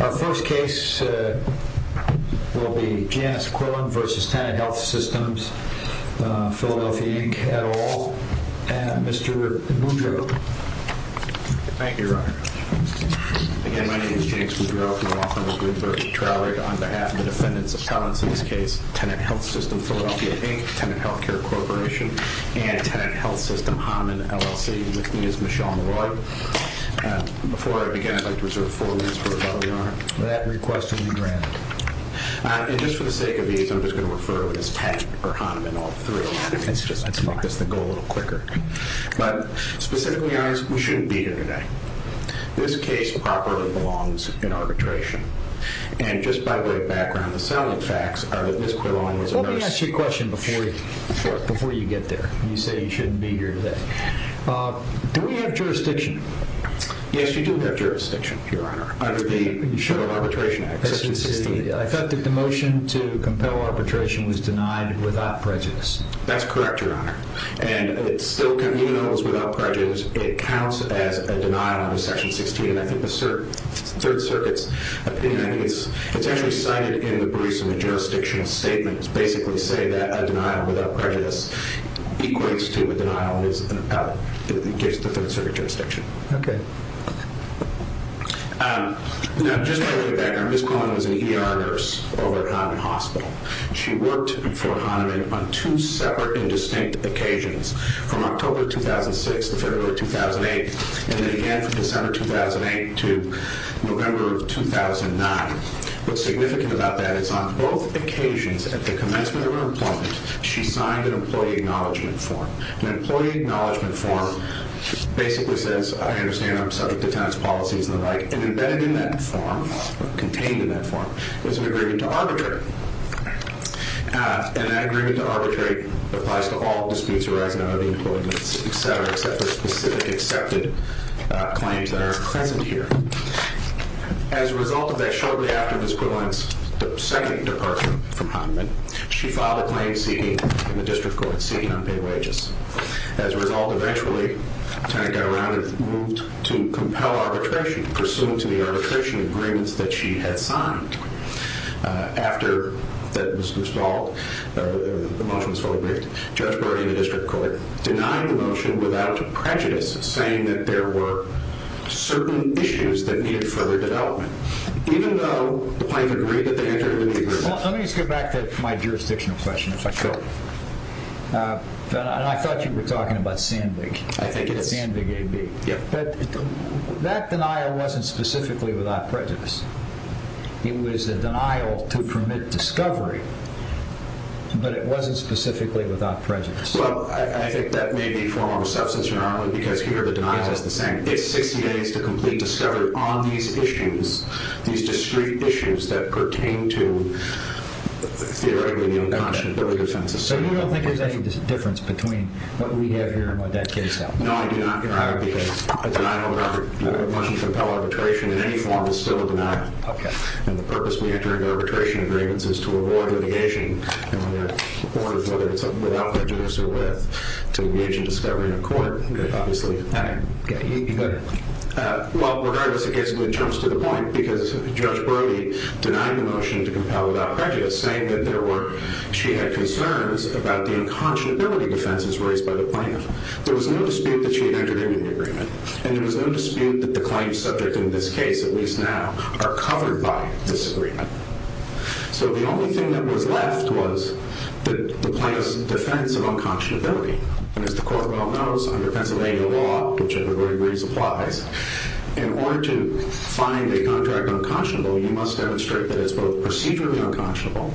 Our first case will be Janice Quillin v. Tenet Health Systems, Philadelphia, Inc. et al. Mr. Woodrow. Thank you, Your Honor. Again, my name is James Woodrow from the law firm of Woodbrook and Troward. On behalf of the defendants' appellants in this case, Tenet Health System, Philadelphia, Inc., Tenet Healthcare Corporation, and Tenet Health System, Hamann, LLC. With me is Ms. Shawn Roy. Before I begin, I'd like to reserve four minutes for rebuttal, Your Honor. That request will be granted. And just for the sake of ease, I'm just going to refer to it as Tenet or Hanuman all through. Let's make this go a little quicker. But specifically, Your Honor, we shouldn't be here today. This case properly belongs in arbitration. And just by way of background, the selling facts are that Ms. Quillin was a nurse... Let me ask you a question before you get there. You say you shouldn't be here today. Do we have jurisdiction? Yes, you do have jurisdiction, Your Honor, under the Civil Arbitration Act, Section 16. I thought that the motion to compel arbitration was denied without prejudice. That's correct, Your Honor. And even though it was without prejudice, it counts as a denial under Section 16. And I think the Third Circuit's opinion, I think it's actually cited in the Bruce and the jurisdiction statement, basically say that a denial without prejudice equates to a denial that gives the Third Circuit jurisdiction. Okay. Now, just by way of background, Ms. Quillin was an ER nurse over at Hanuman Hospital. She worked for Hanuman on two separate and distinct occasions, from October 2006 to February 2008, and then again from December 2008 to November of 2009. What's significant about that is on both occasions, at the commencement of her employment, she signed an employee acknowledgment form. An employee acknowledgment form basically says, I understand I'm subject to tenants' policies and the like, and embedded in that form, contained in that form, was an agreement to arbitrate. And that agreement to arbitrate applies to all disputes arising out of the employment, et cetera, except for specific accepted claims that are present here. As a result of that, shortly after Ms. Quillin's second departure from Hanuman, she filed a claim seeking in the district court, seeking unpaid wages. As a result, eventually, the tenant got around and moved to compel arbitration, pursuant to the arbitration agreements that she had signed. After that was installed, the motion was fully briefed, denied the motion without prejudice, saying that there were certain issues that needed further development, even though the plaintiff agreed that they entered into the agreement. Let me just go back to my jurisdictional question, if I could. I thought you were talking about Sandvig. I think it is. Sandvig AB. That denial wasn't specifically without prejudice. It was a denial to permit discovery, but it wasn't specifically without prejudice. Well, I think that may be a form of a substance, Your Honor, because here the denial is the same. It's 60 days to complete discovery on these issues, these discrete issues that pertain to, theoretically, the unconscionable defenses. So you don't think there's any difference between what we have here and what that case held? No, I do not, Your Honor. Because a denial of a motion to compel arbitration in any form is still a denial. Okay. And the purpose we enter into arbitration agreements is to avoid litigation, and whether it's without prejudice or with, to engage in discovery in a court, obviously. Okay. You go ahead. Well, regardless, it basically jumps to the point, because Judge Brody denied the motion to compel without prejudice, saying that she had concerns about the unconscionability defenses raised by the plaintiff. There was no dispute that she had entered into the agreement, and there was no dispute that the claims subject in this case, at least now, are covered by this agreement. So the only thing that was left was the plaintiff's defense of unconscionability. And as the Court well knows, under Pennsylvania law, which everybody agrees applies, in order to find a contract unconscionable, you must demonstrate that it's both procedurally unconscionable,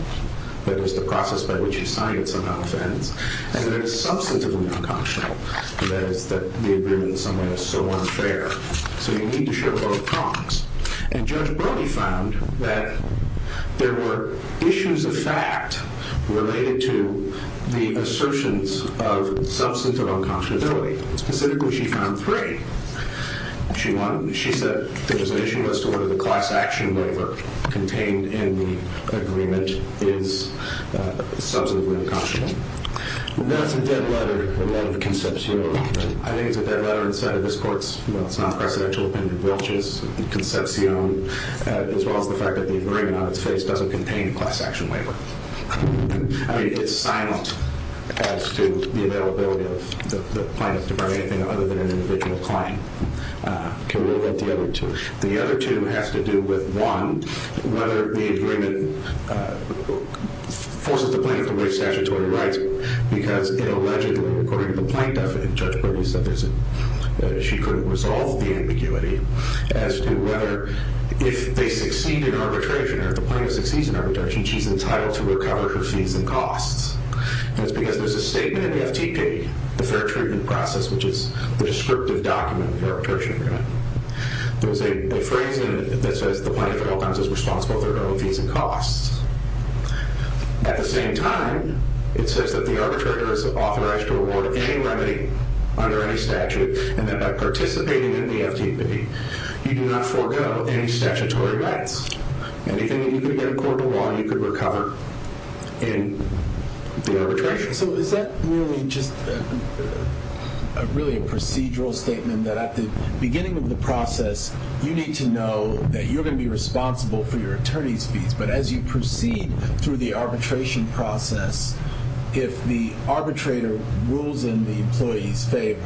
that is, the process by which you sign it somehow offends, and that it's substantively unconscionable, that is, that the agreement in some way is so unfair. So you need to show both prongs. And Judge Brody found that there were issues of fact related to the assertions of substantive unconscionability. Specifically, she found three. She said there was an issue as to whether the class action waiver contained in the agreement is substantively unconscionable. That's a dead letter in light of the concepcion. I think it's a dead letter in sight of this Court's non-presidential opinion, which is concepcion, as well as the fact that the agreement on its face doesn't contain a class action waiver. I mean, it's silent as to the availability of the plaintiff to bring anything other than an individual claim. Can we look at the other two? The other two have to do with, one, whether the agreement forces the plaintiff to waive statutory rights because it allegedly, according to the plaintiff, and Judge Brody said she couldn't resolve the ambiguity, as to whether if they succeed in arbitration or if the plaintiff succeeds in arbitration, she's entitled to recover her fees and costs. And it's because there's a statement in the FTP, the fair treatment process, which is the descriptive document of the arbitration agreement. There's a phrase in it that says the plaintiff is responsible for her own fees and costs. At the same time, it says that the arbitrator is authorized to award any remedy under any statute, and that by participating in the FTP, you do not forego any statutory rights. And if you could get a court of law, you could recover in the arbitration. So is that really just a procedural statement that at the beginning of the process, you need to know that you're going to be responsible for your attorney's fees, but as you proceed through the arbitration process, if the arbitrator rules in the employee's favor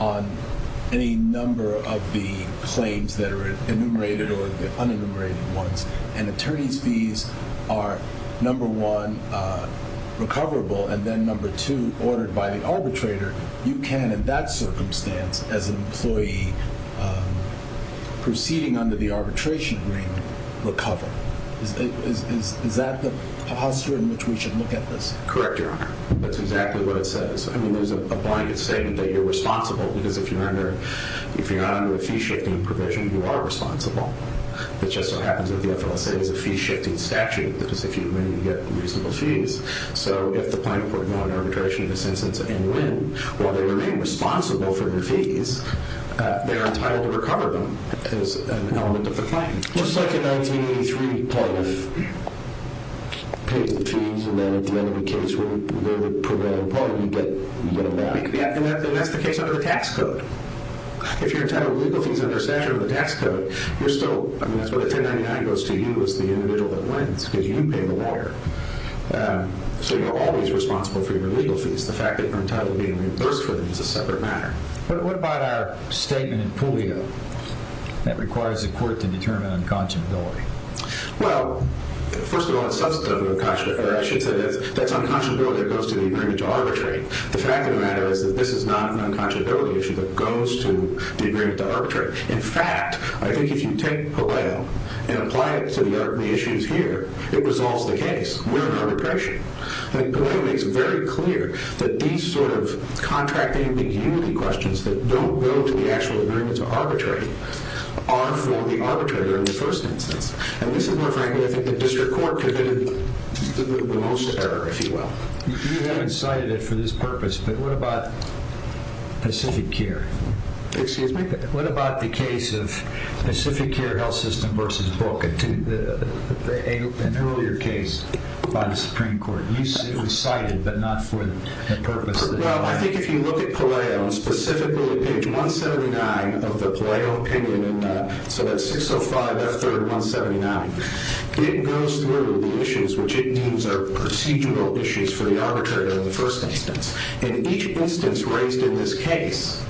on any number of the claims that are enumerated or the unenumerated ones, and attorney's fees are, number one, recoverable, and then, number two, ordered by the arbitrator, you can, in that circumstance, as an employee proceeding under the arbitration agreement, recover. Is that the posture in which we should look at this? Correct, Your Honor. That's exactly what it says. I mean, there's a blanket statement that you're responsible, because if you're not under a fee-shifting provision, you are responsible. It just so happens that the FLSA is a fee-shifting statute, because if you win, you get reasonable fees. So if the plaintiff were to go on arbitration in this instance and win, while they remain responsible for their fees, they're entitled to recover them as an element of the claim. It looks like in 1983, part of it pays the fees, and then at the end of the case, where the provisional part, you get a lot. Yeah, and that's the case under the tax code. If you're entitled to legal fees under a statute under the tax code, you're still, I mean, that's where the 1099 goes to you as the individual that wins, because you pay the lawyer. So you're always responsible for your legal fees. The fact that you're entitled to being reimbursed for them is a separate matter. But what about our statement in Puleo that requires the court to determine unconscionability? Well, first of all, that's unconscionability that goes to the agreement to arbitrate. The fact of the matter is that this is not an unconscionability issue that goes to the agreement to arbitrate. In fact, I think if you take Puleo and apply it to the issues here, it resolves the case with arbitration. And Puleo makes it very clear that these sort of contracting the unity questions that don't go to the actual agreement to arbitrate are for the arbitrator in the first instance. And this is where, frankly, I think the district court committed the most error, if you will. You haven't cited it for this purpose, but what about Pacific Care? Excuse me? An earlier case by the Supreme Court. It was cited, but not for the purpose. Well, I think if you look at Puleo and specifically page 179 of the Puleo opinion, so that's 605F3rd179, it goes through the issues, which it means are procedural issues for the arbitrator in the first instance. And each instance raised in this case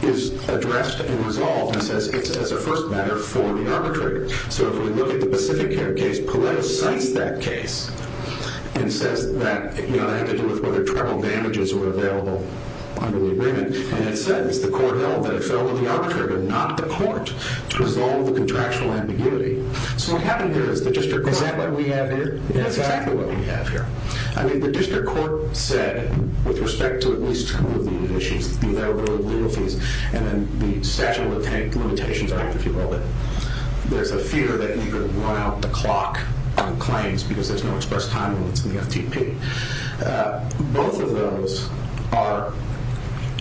is addressed and resolved as a first matter for the arbitrator. So if we look at the Pacific Care case, Puleo cites that case and says that it had to do with whether travel damages were available under the agreement. And it says the court held that it fell on the arbitrator, not the court, to resolve the contractual ambiguity. So what happened here is the district court... Is that what we have here? That's exactly what we have here. I mean, the district court said, with respect to at least two of the issues, and then the statute of limitations, right, if you will, that there's a fear that you could run out the clock on claims because there's no express time limits in the FTP. Both of those are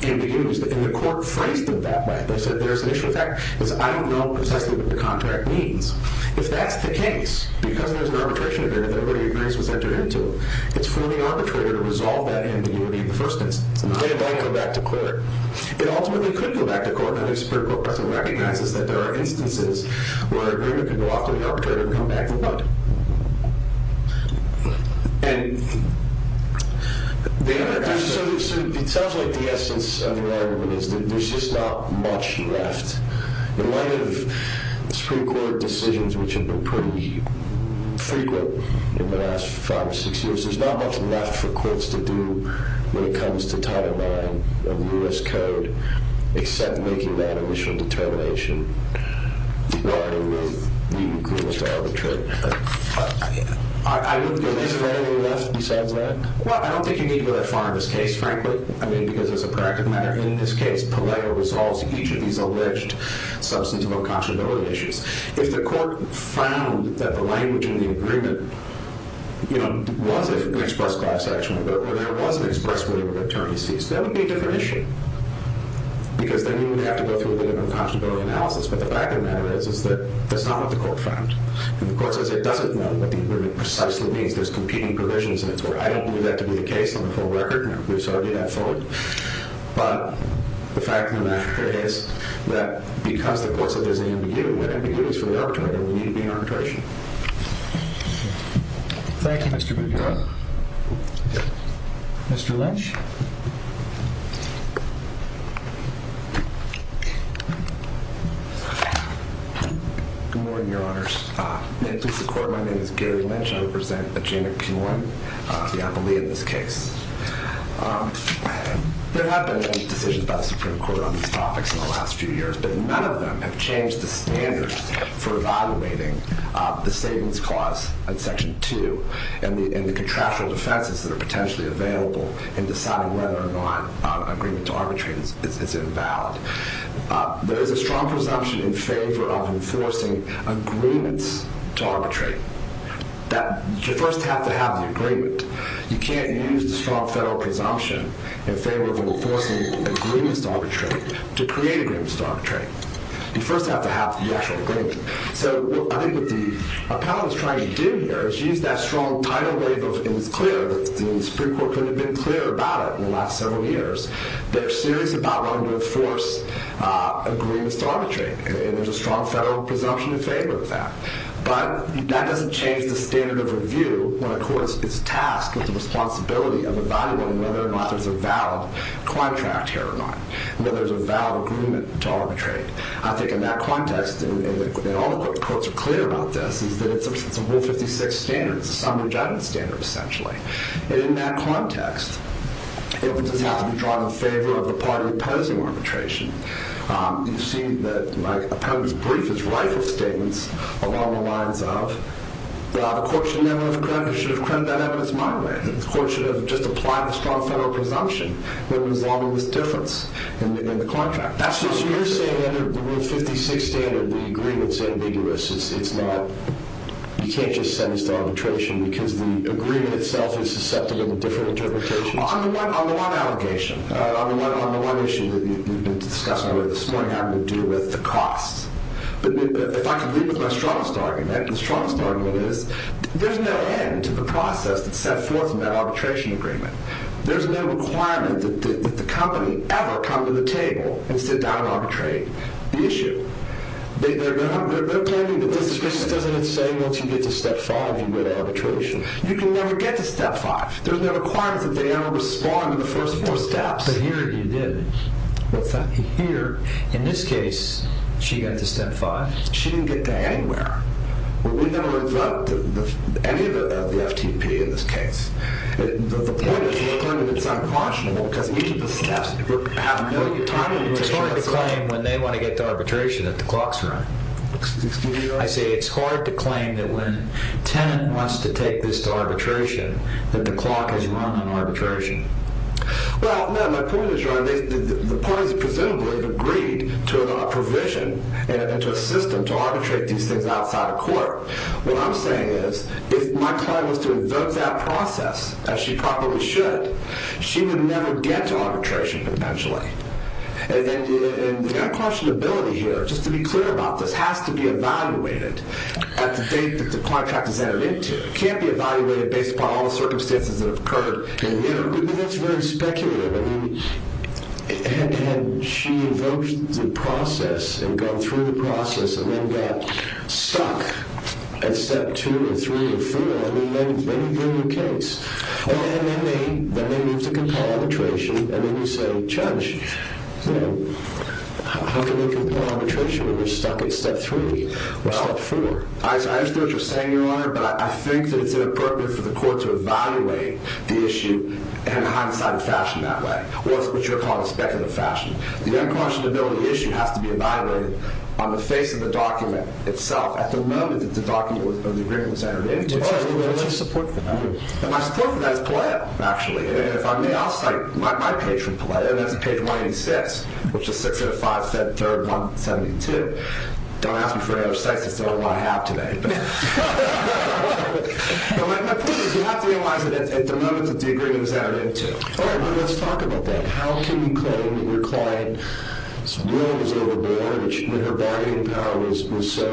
ambiguous, and the court phrased it that way. They said there's an issue with that because I don't know precisely what the contract means. If that's the case, because there's an arbitration agreement that everybody agrees was entered into, it's for the arbitrator to resolve that ambiguity in the first instance. Then it might go back to court. It ultimately could go back to court, and I think the district court person recognizes that there are instances where an agreement can go off to the arbitrator and come back to the court. It sounds like the essence of the argument is that there's just not much left. In light of the Supreme Court decisions, which have been pretty frequent in the last five or six years, there's not much left for courts to do when it comes to title IX of U.S. code except making that initial determination. Is there anything left besides that? Well, I don't think you need to go that far in this case, frankly, because it's a practical matter. In this case, Palaio resolves each of these alleged substantive unconscionability issues. If the court found that the language in the agreement was an express class action, or there was an express way of returning a cease, that would be a different issue, because then you would have to go through a bit of unconscionability analysis. But the fact of the matter is that that's not what the court found. The court says it doesn't know what the agreement precisely means. There's competing provisions, and I don't believe that to be the case on the full record. We've studied that fully. But the fact of the matter is that because the court said there's an MOU, an MOU is for the arbitrator. We need to be an arbitration. Thank you, Mr. McGill. Mr. Lynch? Good morning, Your Honors. And to the court, my name is Gary Lynch. I represent a chain of CUNY, the employee in this case. There have been many decisions by the Supreme Court on these topics in the last few years, but none of them have changed the standards for evaluating the savings clause in Section 2 and the contractual defenses that are potentially available in deciding whether or not agreement to arbitrate is invalid. There is a strong presumption in favor of enforcing agreements to arbitrate that you first have to have the agreement. You can't use the strong federal presumption in favor of enforcing agreements to arbitrate to create agreements to arbitrate. You first have to have the actual agreement. So I think what the appellant is trying to do here is use that strong title where it's clear that the Supreme Court couldn't have been clearer about it in the last several years. They're serious about wanting to enforce agreements to arbitrate, and there's a strong federal presumption in favor of that. But that doesn't change the standard of review when a court is tasked with the responsibility of evaluating whether or not there's a valid contract here or not, whether there's a valid agreement to arbitrate. I think in that context, and all the courts are clear about this, is that it's a Rule 56 standard. It's a summary judgment standard, essentially. And in that context, it doesn't have to be drawn in favor of the party opposing arbitration. You see that my appellant's brief is rife with statements along the lines of, the court should have credited that evidence my way. The court should have just applied the strong federal presumption when resolving this difference in the contract. So you're saying under the Rule 56 standard, the agreement's ambiguous. You can't just send this to arbitration because the agreement itself is susceptible to different interpretations. On the one allegation, on the one issue that you've been discussing with us this morning, having to do with the costs, if I can leave with my strongest argument, the strongest argument is there's no end to the process that's set forth in that arbitration agreement. There's no requirement that the company ever come to the table and sit down and arbitrate the issue. They're claiming that this is business as it is saying, once you get to step five, you win arbitration. You can never get to step five. There's no requirement that they ever respond in the first four steps. But here you did. What's that? Here, in this case, she got to step five. She didn't get to anywhere. We never invoked any of the FTP in this case. The point is, it's uncautionable because each of the steps have no time limit. It's hard to claim when they want to get to arbitration that the clock's running. Excuse me? I see. It's hard to claim that when a tenant wants to take this to arbitration that the clock is running arbitration. Well, my point is, the parties presumably have agreed to a provision and to a system to arbitrate these things outside of court. What I'm saying is, if my client was to invoke that process, as she probably should, she would never get to arbitration eventually. And the uncautionability here, just to be clear about this, has to be evaluated at the date that the contract is entered into. It can't be evaluated based upon all the circumstances that have occurred. But that's very speculative. I mean, had she invoked the process and gone through the process and then got stuck at step two or three or four, I mean, maybe you're in your case. And then they move to compel arbitration. And then you say, Judge, how can we compel arbitration when we're stuck at step three or step four? I understand what you're saying, Your Honor. But I think that it's inappropriate for the court to evaluate the issue in a hindsight fashion that way, what you would call a speculative fashion. The uncautionability issue has to be evaluated on the face of the document itself at the moment that the agreement was entered into. All right. What's your support for that? My support for that is PALEO, actually. And if I may, I'll cite my page from PALEO. And that's page 1986, which is 605-3-172. Don't ask me for any other cites. That's the only one I have today. But my point is, you have to realize that at the moment that the agreement was entered into. All right. Well, let's talk about that. How can you claim that your client's will was overboard when her bargaining power was so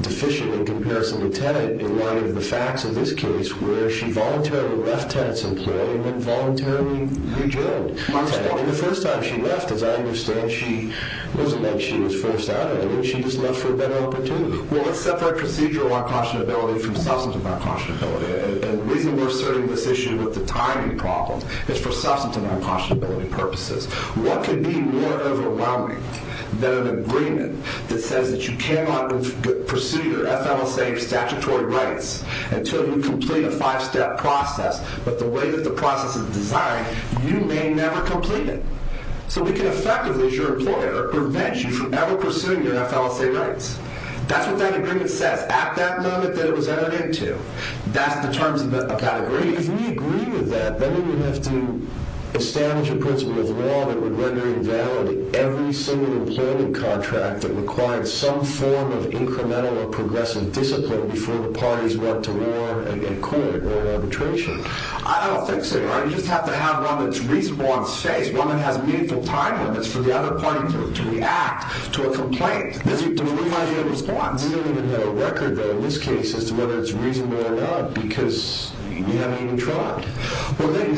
deficient in comparison to Tenet in light of the facts of this case where she voluntarily left Tenet's employ and then voluntarily rejoined Tenet? That was probably the first time she left. As I understand, she wasn't like she was first out of it. She just left for a better opportunity. Well, let's separate procedural uncautionability from substantive uncautionability. And the reason we're starting this issue with the timing problem is for substantive uncautionability purposes. What could be more overwhelming than an agreement that says that you cannot pursue your FLSA statutory rights until you complete a five-step process, but the way that the process is designed, you may never complete it. So we can effectively, as your employer, prevent you from ever pursuing your FLSA rights. That's what that agreement says. That's at that moment that it was edited to. That's the terms of the category. If we agree with that, then we would have to establish a principle of law that would render invalid every single employment contract that required some form of incremental or progressive discipline before the parties went to war and court or arbitration. I don't think so. You just have to have one that's response-based. One that has meaningful time limits for the other party to react to a complaint, to provide you a response. We don't even have a record, though, in this case, as to whether it's reasonable or not because we haven't even tried. Well, then you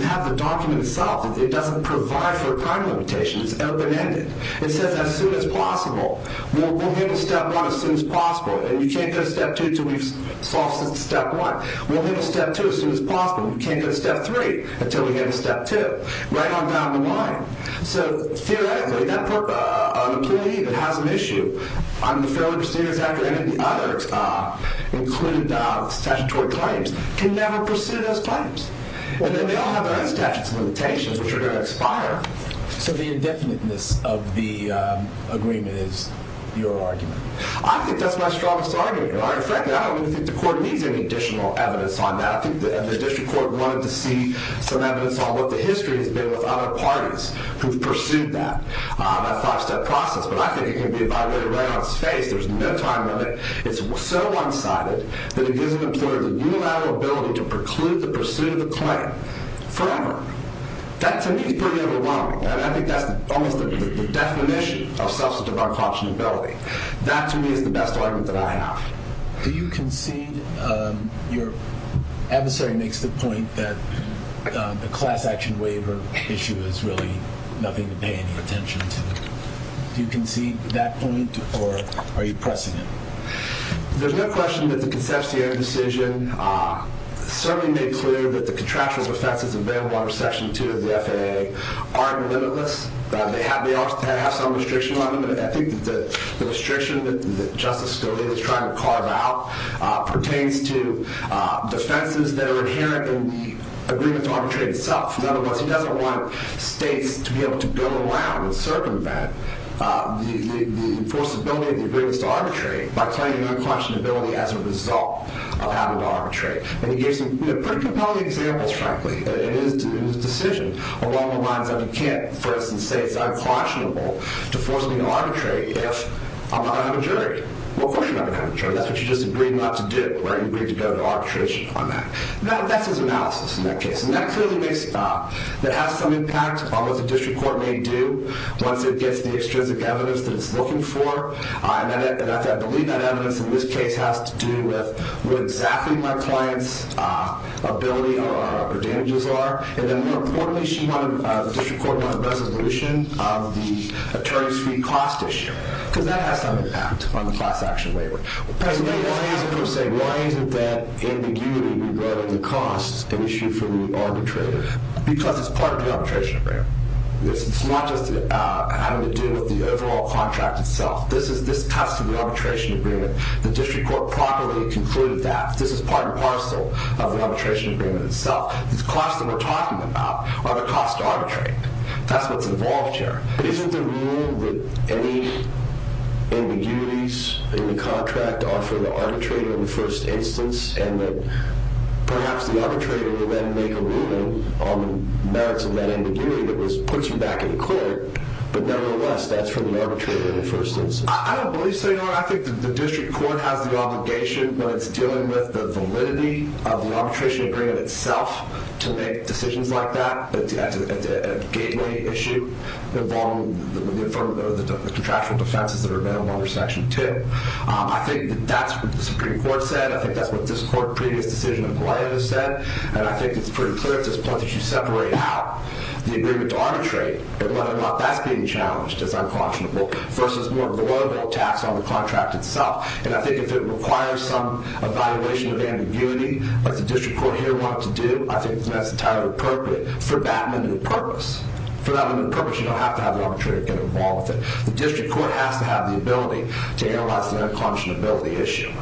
have the document itself. It doesn't provide for a time limitation. It's open-ended. It says as soon as possible. We'll get to step one as soon as possible. And you can't go to step two until we've solved step one. We'll get to step two as soon as possible. You can't go to step three until we get to step two. Right on down the line. So, theoretically, that part of the committee that has an issue on the Fair Labor Standards Act or any of the others, including statutory claims, can never pursue those claims. And then they all have their own statutory limitations, which are going to expire. So the indefiniteness of the agreement is your argument? I think that's my strongest argument. Frankly, I don't think the court needs any additional evidence on that. I think the district court wanted to see some evidence on what the history has been with other parties who've pursued that five-step process. But I think it can be violated right on its face. There's no time limit. It's so one-sided that it gives an employer the unilateral ability to preclude the pursuit of the claim forever. That, to me, is pretty overwhelming. I think that's almost the definition of substantive unconscionability. That, to me, is the best argument that I have. Do you concede your adversary makes the point that the class-action waiver issue is really nothing to pay any attention to? Do you concede that point, or are you pressing it? There's no question that the Concepcion decision certainly made clear that the contractual effects of the Vail Water Section 2 of the FAA are limitless. They have some restriction on them. I think that the restriction that Justice Scalia is trying to carve out pertains to defenses that are inherent in the agreement to arbitrate itself. In other words, he doesn't want states to be able to go around and circumvent the enforceability of the agreements to arbitrate by claiming unconscionability as a result of having to arbitrate. And he gives some pretty compelling examples, frankly, in his decision. Along the lines of you can't, for instance, say it's unconscionable to force me to arbitrate if I'm not going to have a jury. Well, of course you're not going to have a jury. That's what you just agreed not to do, right? You agreed to go to arbitration on that. That's his analysis in that case. And that clearly has some impact on what the district court may do once it gets the extrinsic evidence that it's looking for. And I believe that evidence in this case has to do with what exactly my client's ability or damages are. And then more importantly, the district court wanted a resolution of the attorney's fee cost issue because that has some impact on the class action labor. Why is it that ambiguity regarding the cost is an issue for the arbitrator? Because it's part of the arbitration agreement. It's not just having to do with the overall contract itself. This cuts to the arbitration agreement. The district court properly concluded that. This is part and parcel of the arbitration agreement itself. These costs that we're talking about are the cost to arbitrate. That's what's involved here. But isn't the rule that any ambiguities in the contract are for the arbitrator in the first instance? And that perhaps the arbitrator will then make a ruling on the merits of that ambiguity that puts him back in court. But nevertheless, that's for the arbitrator in the first instance. I don't believe so, Your Honor. Your Honor, I think the district court has the obligation when it's dealing with the validity of the arbitration agreement itself to make decisions like that. That's a gateway issue involving the affirmative or the contractual defenses that are available under Section 2. I think that that's what the Supreme Court said. I think that's what this court's previous decision in Plano said. And I think it's pretty clear at this point that you separate out the agreement to arbitrate and whether or not that's being challenged as unconscionable versus more of the loyalty tax on the contract itself. And I think if it requires some evaluation of ambiguity, like the district court here wanted to do, I think that's entirely appropriate for that limit of purpose. For that limit of purpose, you don't have to have the arbitrator get involved with it. The district court has to have the ability to analyze the unconscionability issue.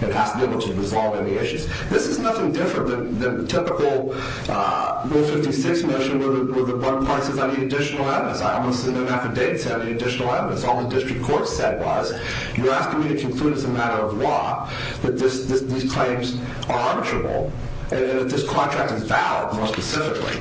It has to be able to resolve any issues. This is nothing different than the typical Rule 56 measure where the one part says I need additional evidence. I want to send an affidavit saying I need additional evidence. All the district court said was you're asking me to conclude as a matter of law that these claims are arbitrable, and that this contract is valid, more specifically.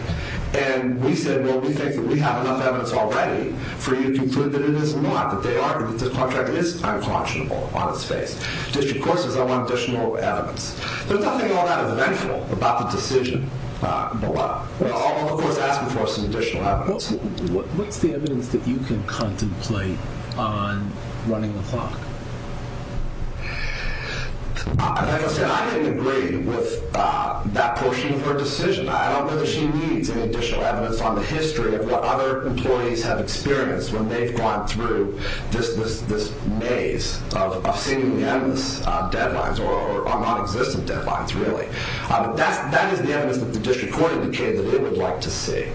And we said, well, we think that we have enough evidence already for you to conclude that it is not, that they argue that this contract is unconscionable on its face. District court says I want additional evidence. There's nothing all that eventual about the decision below. I'll, of course, ask for some additional evidence. What's the evidence that you can contemplate on running the clock? Like I said, I didn't agree with that portion of her decision. I don't know that she needs any additional evidence on the history of what other employees have experienced when they've gone through this maze of seemingly endless deadlines or nonexistent deadlines, really. That is the evidence that the district court indicated it would like to see.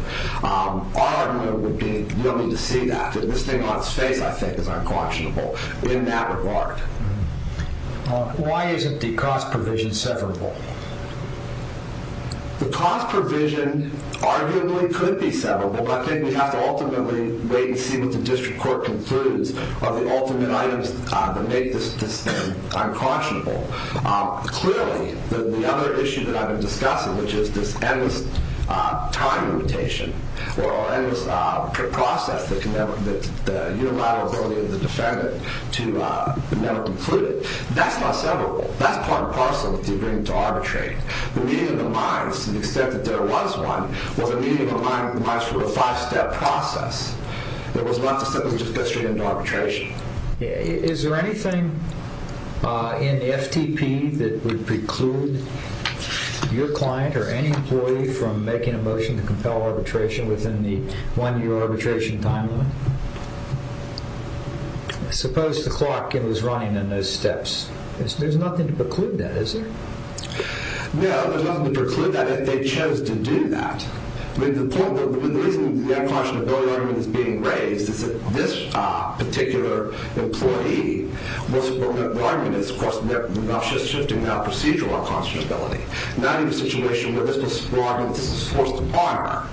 Our argument would be you don't need to see that. This thing on its face, I think, is unconscionable in that regard. Why isn't the cost provision severable? The cost provision arguably could be severable, but I think we have to ultimately wait and see what the district court concludes are the ultimate items that make this unconscionable. Clearly, the other issue that I've been discussing, which is this endless time limitation or endless process that the unilateral ability of the defendant to never conclude it, that's not severable. That's part and parcel with the agreement to arbitrate. The meeting of the minds, to the extent that there was one, was a meeting of the minds for a five-step process. It was not to simply just get straight into arbitration. Is there anything in the FTP that would preclude your client or any employee from making a motion to compel arbitration within the one-year arbitration time limit? Suppose the clock was running in those steps. There's nothing to preclude that, is there? No, there's nothing to preclude that. They chose to do that. The reason the unconscionability argument is being raised is that this particular employee, what's important about the argument is, of course, they're not just shifting their procedural unconscionability. Not in a situation where this was the argument that this was forced upon her.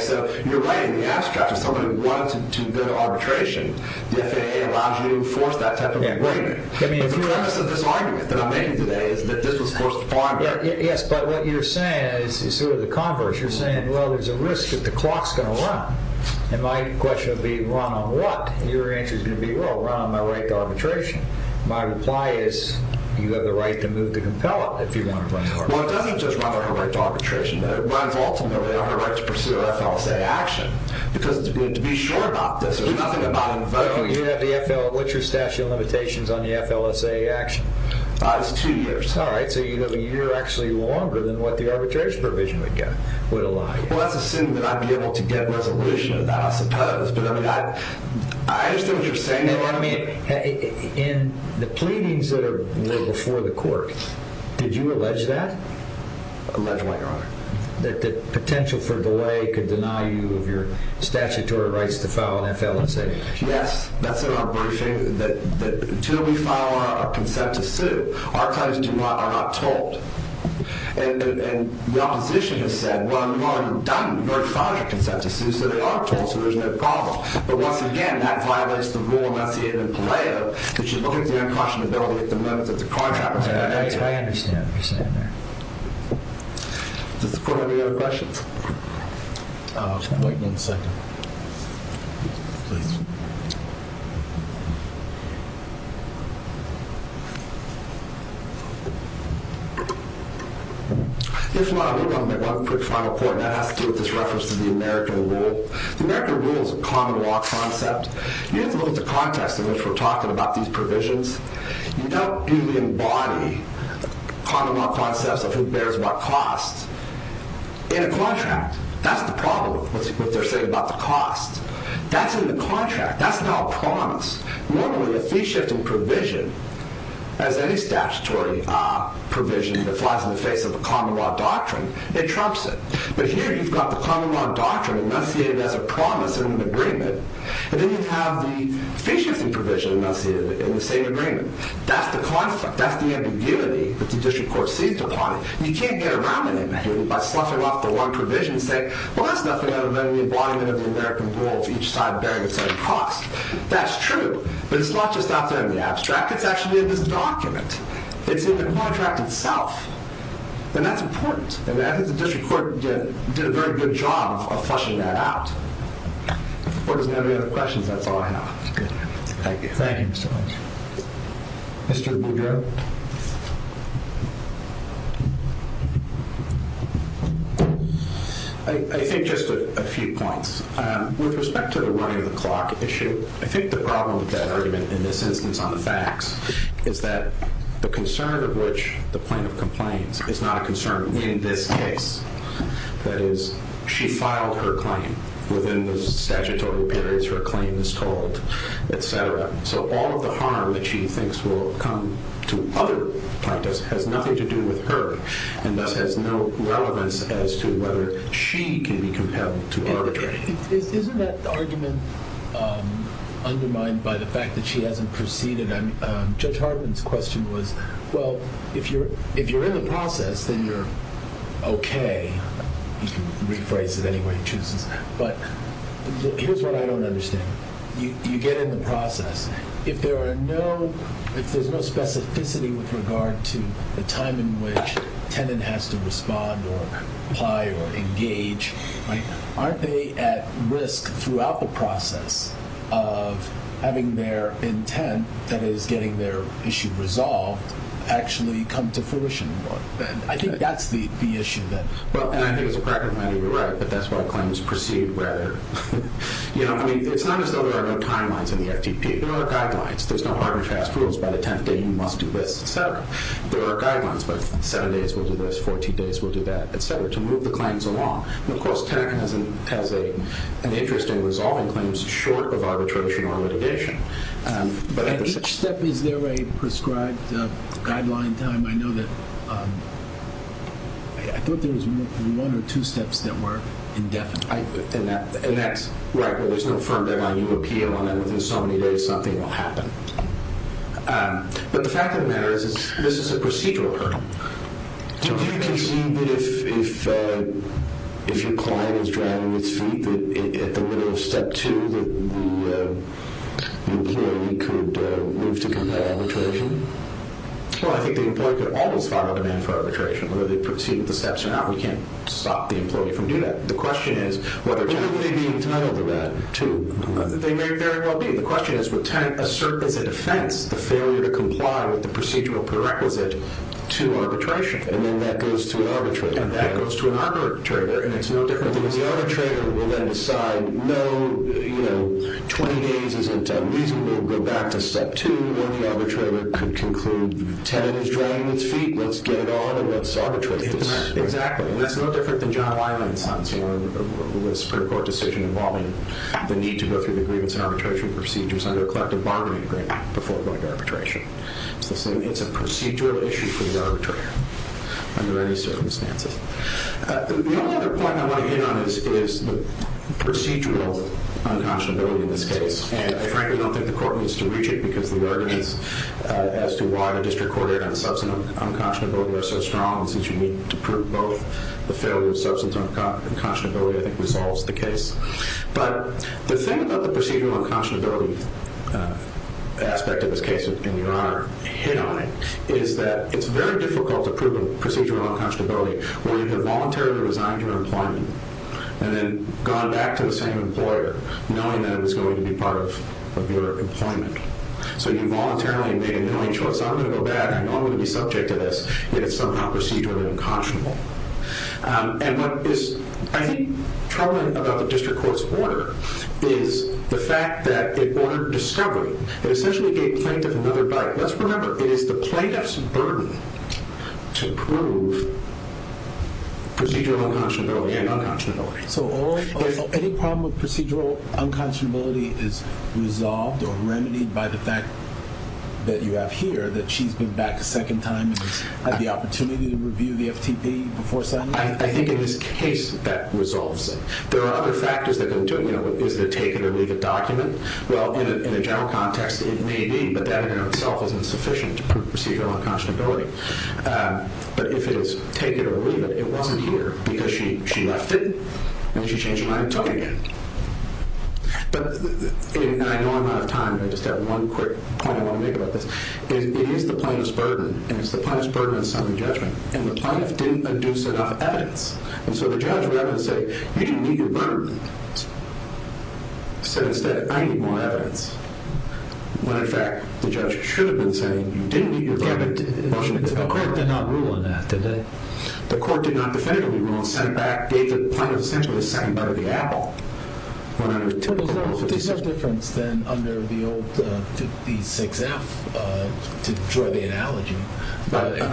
So you're right in the abstract. If somebody wanted to go to arbitration, the FAA allows you to enforce that type of agreement. The premise of this argument that I'm making today is that this was forced upon her. Yes, but what you're saying is sort of the converse. You're saying, well, there's a risk that the clock's going to run. And my question would be, run on what? And your answer is going to be, well, run on my right to arbitration. My reply is, you have the right to move to compel it if you want to run to arbitration. Well, it doesn't just run on her right to arbitration. It runs ultimately on her right to pursue an FLSA action because to be sure about this, there's nothing about invoking it. You have the FL, what's your statute of limitations on the FLSA action? It's two years. Two years, all right. So you're actually longer than what the arbitration provision would allow you. Well, that's assuming that I'd be able to get a resolution of that, I suppose. But I mean, I understand what you're saying there. I mean, in the pleadings that are before the court, did you allege that? Allege what, Your Honor? That the potential for delay could deny you of your statutory rights to file an FLSA action. Yes, that's in our briefing. Until we file our consent to sue, our clients are not told. And the opposition has said, well, you've already done or filed your consent to sue, so they are told, so there's no problem. But once again, that violates the rule enunciated in Peleo that you look at the unconscionability at the moment that the contract was signed. That's what I understand what you're saying there. Does the court have any other questions? Wait one second. Please. If not, I would like to make one quick final point, and that has to do with this reference to the American rule. The American rule is a common law concept. You have to look at the context in which we're talking about these provisions. You don't usually embody common law concepts of who bears what cost in a contract. That's the problem with what they're saying about the cost. That's in the contract. That's not a promise. Normally, a fee-shifting provision, as any statutory provision that flies in the face of a common law doctrine, it trumps it. But here you've got the common law doctrine enunciated as a promise in an agreement, and then you have the fee-shifting provision enunciated in the same agreement. That's the conflict. That's the ambiguity that the district court seized upon. You can't get around it by sloughing off the wrong provision and saying, well, that's nothing other than the embodiment of the American rule of each side bearing its own cost. That's true, but it's not just out there in the abstract. It's actually in this document. It's in the contract itself, and that's important. And I think the district court did a very good job of fleshing that out. If the court doesn't have any other questions, that's all I have. Thank you. Thank you, Mr. Lynch. Mr. Boudreaux? I think just a few points. With respect to the running-of-the-clock issue, I think the problem with that argument in this instance on the facts is that the concern of which the plaintiff complains is not a concern in this case. That is, she filed her claim within the statutory periods her claim is told, et cetera. So all of the harm that she thinks will come to other plaintiffs has nothing to do with her and thus has no relevance as to whether she can be compelled to arbitrate. Isn't that argument undermined by the fact that she hasn't proceeded? Judge Hartman's question was, well, if you're in the process, then you're okay. You can rephrase it any way you choose. But here's what I don't understand. You get in the process. If there's no specificity with regard to the time in which a tenant has to respond or apply or engage, aren't they at risk throughout the process of having their intent, that is, getting their issue resolved, actually come to fruition? I think that's the issue. Well, and I think as a practical matter, you're right, but that's why claims proceed rather, you know, I mean, it's not as though there are no timelines in the FTP. There are guidelines. There's no hard and fast rules. By the 10th day, you must do this, et cetera. There are guidelines, but seven days, we'll do this. 14 days, we'll do that, et cetera, to move the claims along. And of course, tenant has an interest in resolving claims short of arbitration or litigation. And each step, is there a prescribed guideline time? I know that, I thought there was one or two steps that were indefinite. And that's, right, well, there's no firm guideline. You appeal on that within so many days, something will happen. But the fact of the matter is, this is a procedural hurdle. Do you concede that if your client is dragging its feet, that at the middle of step two, that the employee could move to compliant arbitration? Well, I think the employee could always file a demand for arbitration, whether they proceed with the steps or not. We can't stop the employee from doing that. The question is whether tenants… But wouldn't they be entitled to that, too? They may very well be. The question is, would tenant assert as a defense the failure to comply with the procedural prerequisite to arbitration? And then that goes to an arbitrator. And that goes to an arbitrator, and it's no different. In other words, the arbitrator will then decide, no, you know, 20 days isn't reasonable. We'll go back to step two where the arbitrator could conclude the tenant is dragging its feet. Let's get it on, and let's arbitrate this. Exactly. And that's no different than John Wiley and Sons, you know, with a Supreme Court decision involving the need to go through the grievance and arbitration procedures under a collective bargaining agreement before going to arbitration. It's the same. It's a procedural issue for the arbitrator under any circumstances. The only other point I want to hit on is the procedural unconscionability in this case. And I frankly don't think the court needs to reach it because the arguments as to why the district court heard on substance unconscionability are so strong, and since you need to prove both the failure of substance unconscionability, I think, resolves the case. But the thing about the procedural unconscionability aspect of this case, in your honor, hit on it, is that it's very difficult to prove a procedural unconscionability where you have voluntarily resigned your employment and then gone back to the same employer knowing that it was going to be part of your employment. So you voluntarily made a knowing choice. I'm going to go back. I know I'm going to be subject to this, yet it's somehow procedurally unconscionable. And what is, I think, troubling about the district court's order is the fact that it ordered discovery. It essentially gave plaintiff another bite. Let's remember it is the plaintiff's burden to prove procedural unconscionability and unconscionability. So any problem with procedural unconscionability is resolved or remedied by the fact that you have here, that she's been back a second time and had the opportunity to review the FTP before signing it? I think in this case that resolves it. There are other factors that can do it. Is it a take it or leave it document? Well, in a general context, it may be, but that in and of itself isn't sufficient to prove procedural unconscionability. But if it is take it or leave it, it wasn't here because she left it and she changed her mind and took it again. But I know I'm out of time, but I just have one quick point I want to make about this. It is the plaintiff's burden, and it's the plaintiff's burden in summary judgment. And the plaintiff didn't induce enough evidence. And so the judge would have to say, you didn't need your burden. So instead, I need more evidence. When, in fact, the judge should have been saying, you didn't need your burden. The court did not rule on that, did they? The court did not definitively rule and sent back, gave the plaintiff essentially a second bite of the apple. Well, there's no difference then under the old 56F to draw the analogy.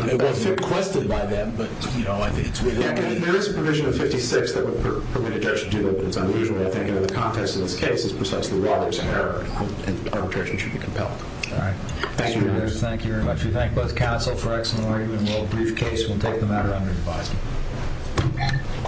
It wasn't requested by them, but, you know, I think it's within the. There is a provision of 56 that would permit a judge to do that, but it's unusual, I think, and in the context of this case, it's precisely why there's an error. And arbitration should be compelled. All right. Thank you. Thank you very much. We thank both counsel for excellent argument. We'll briefcase. We'll take the matter under advisory.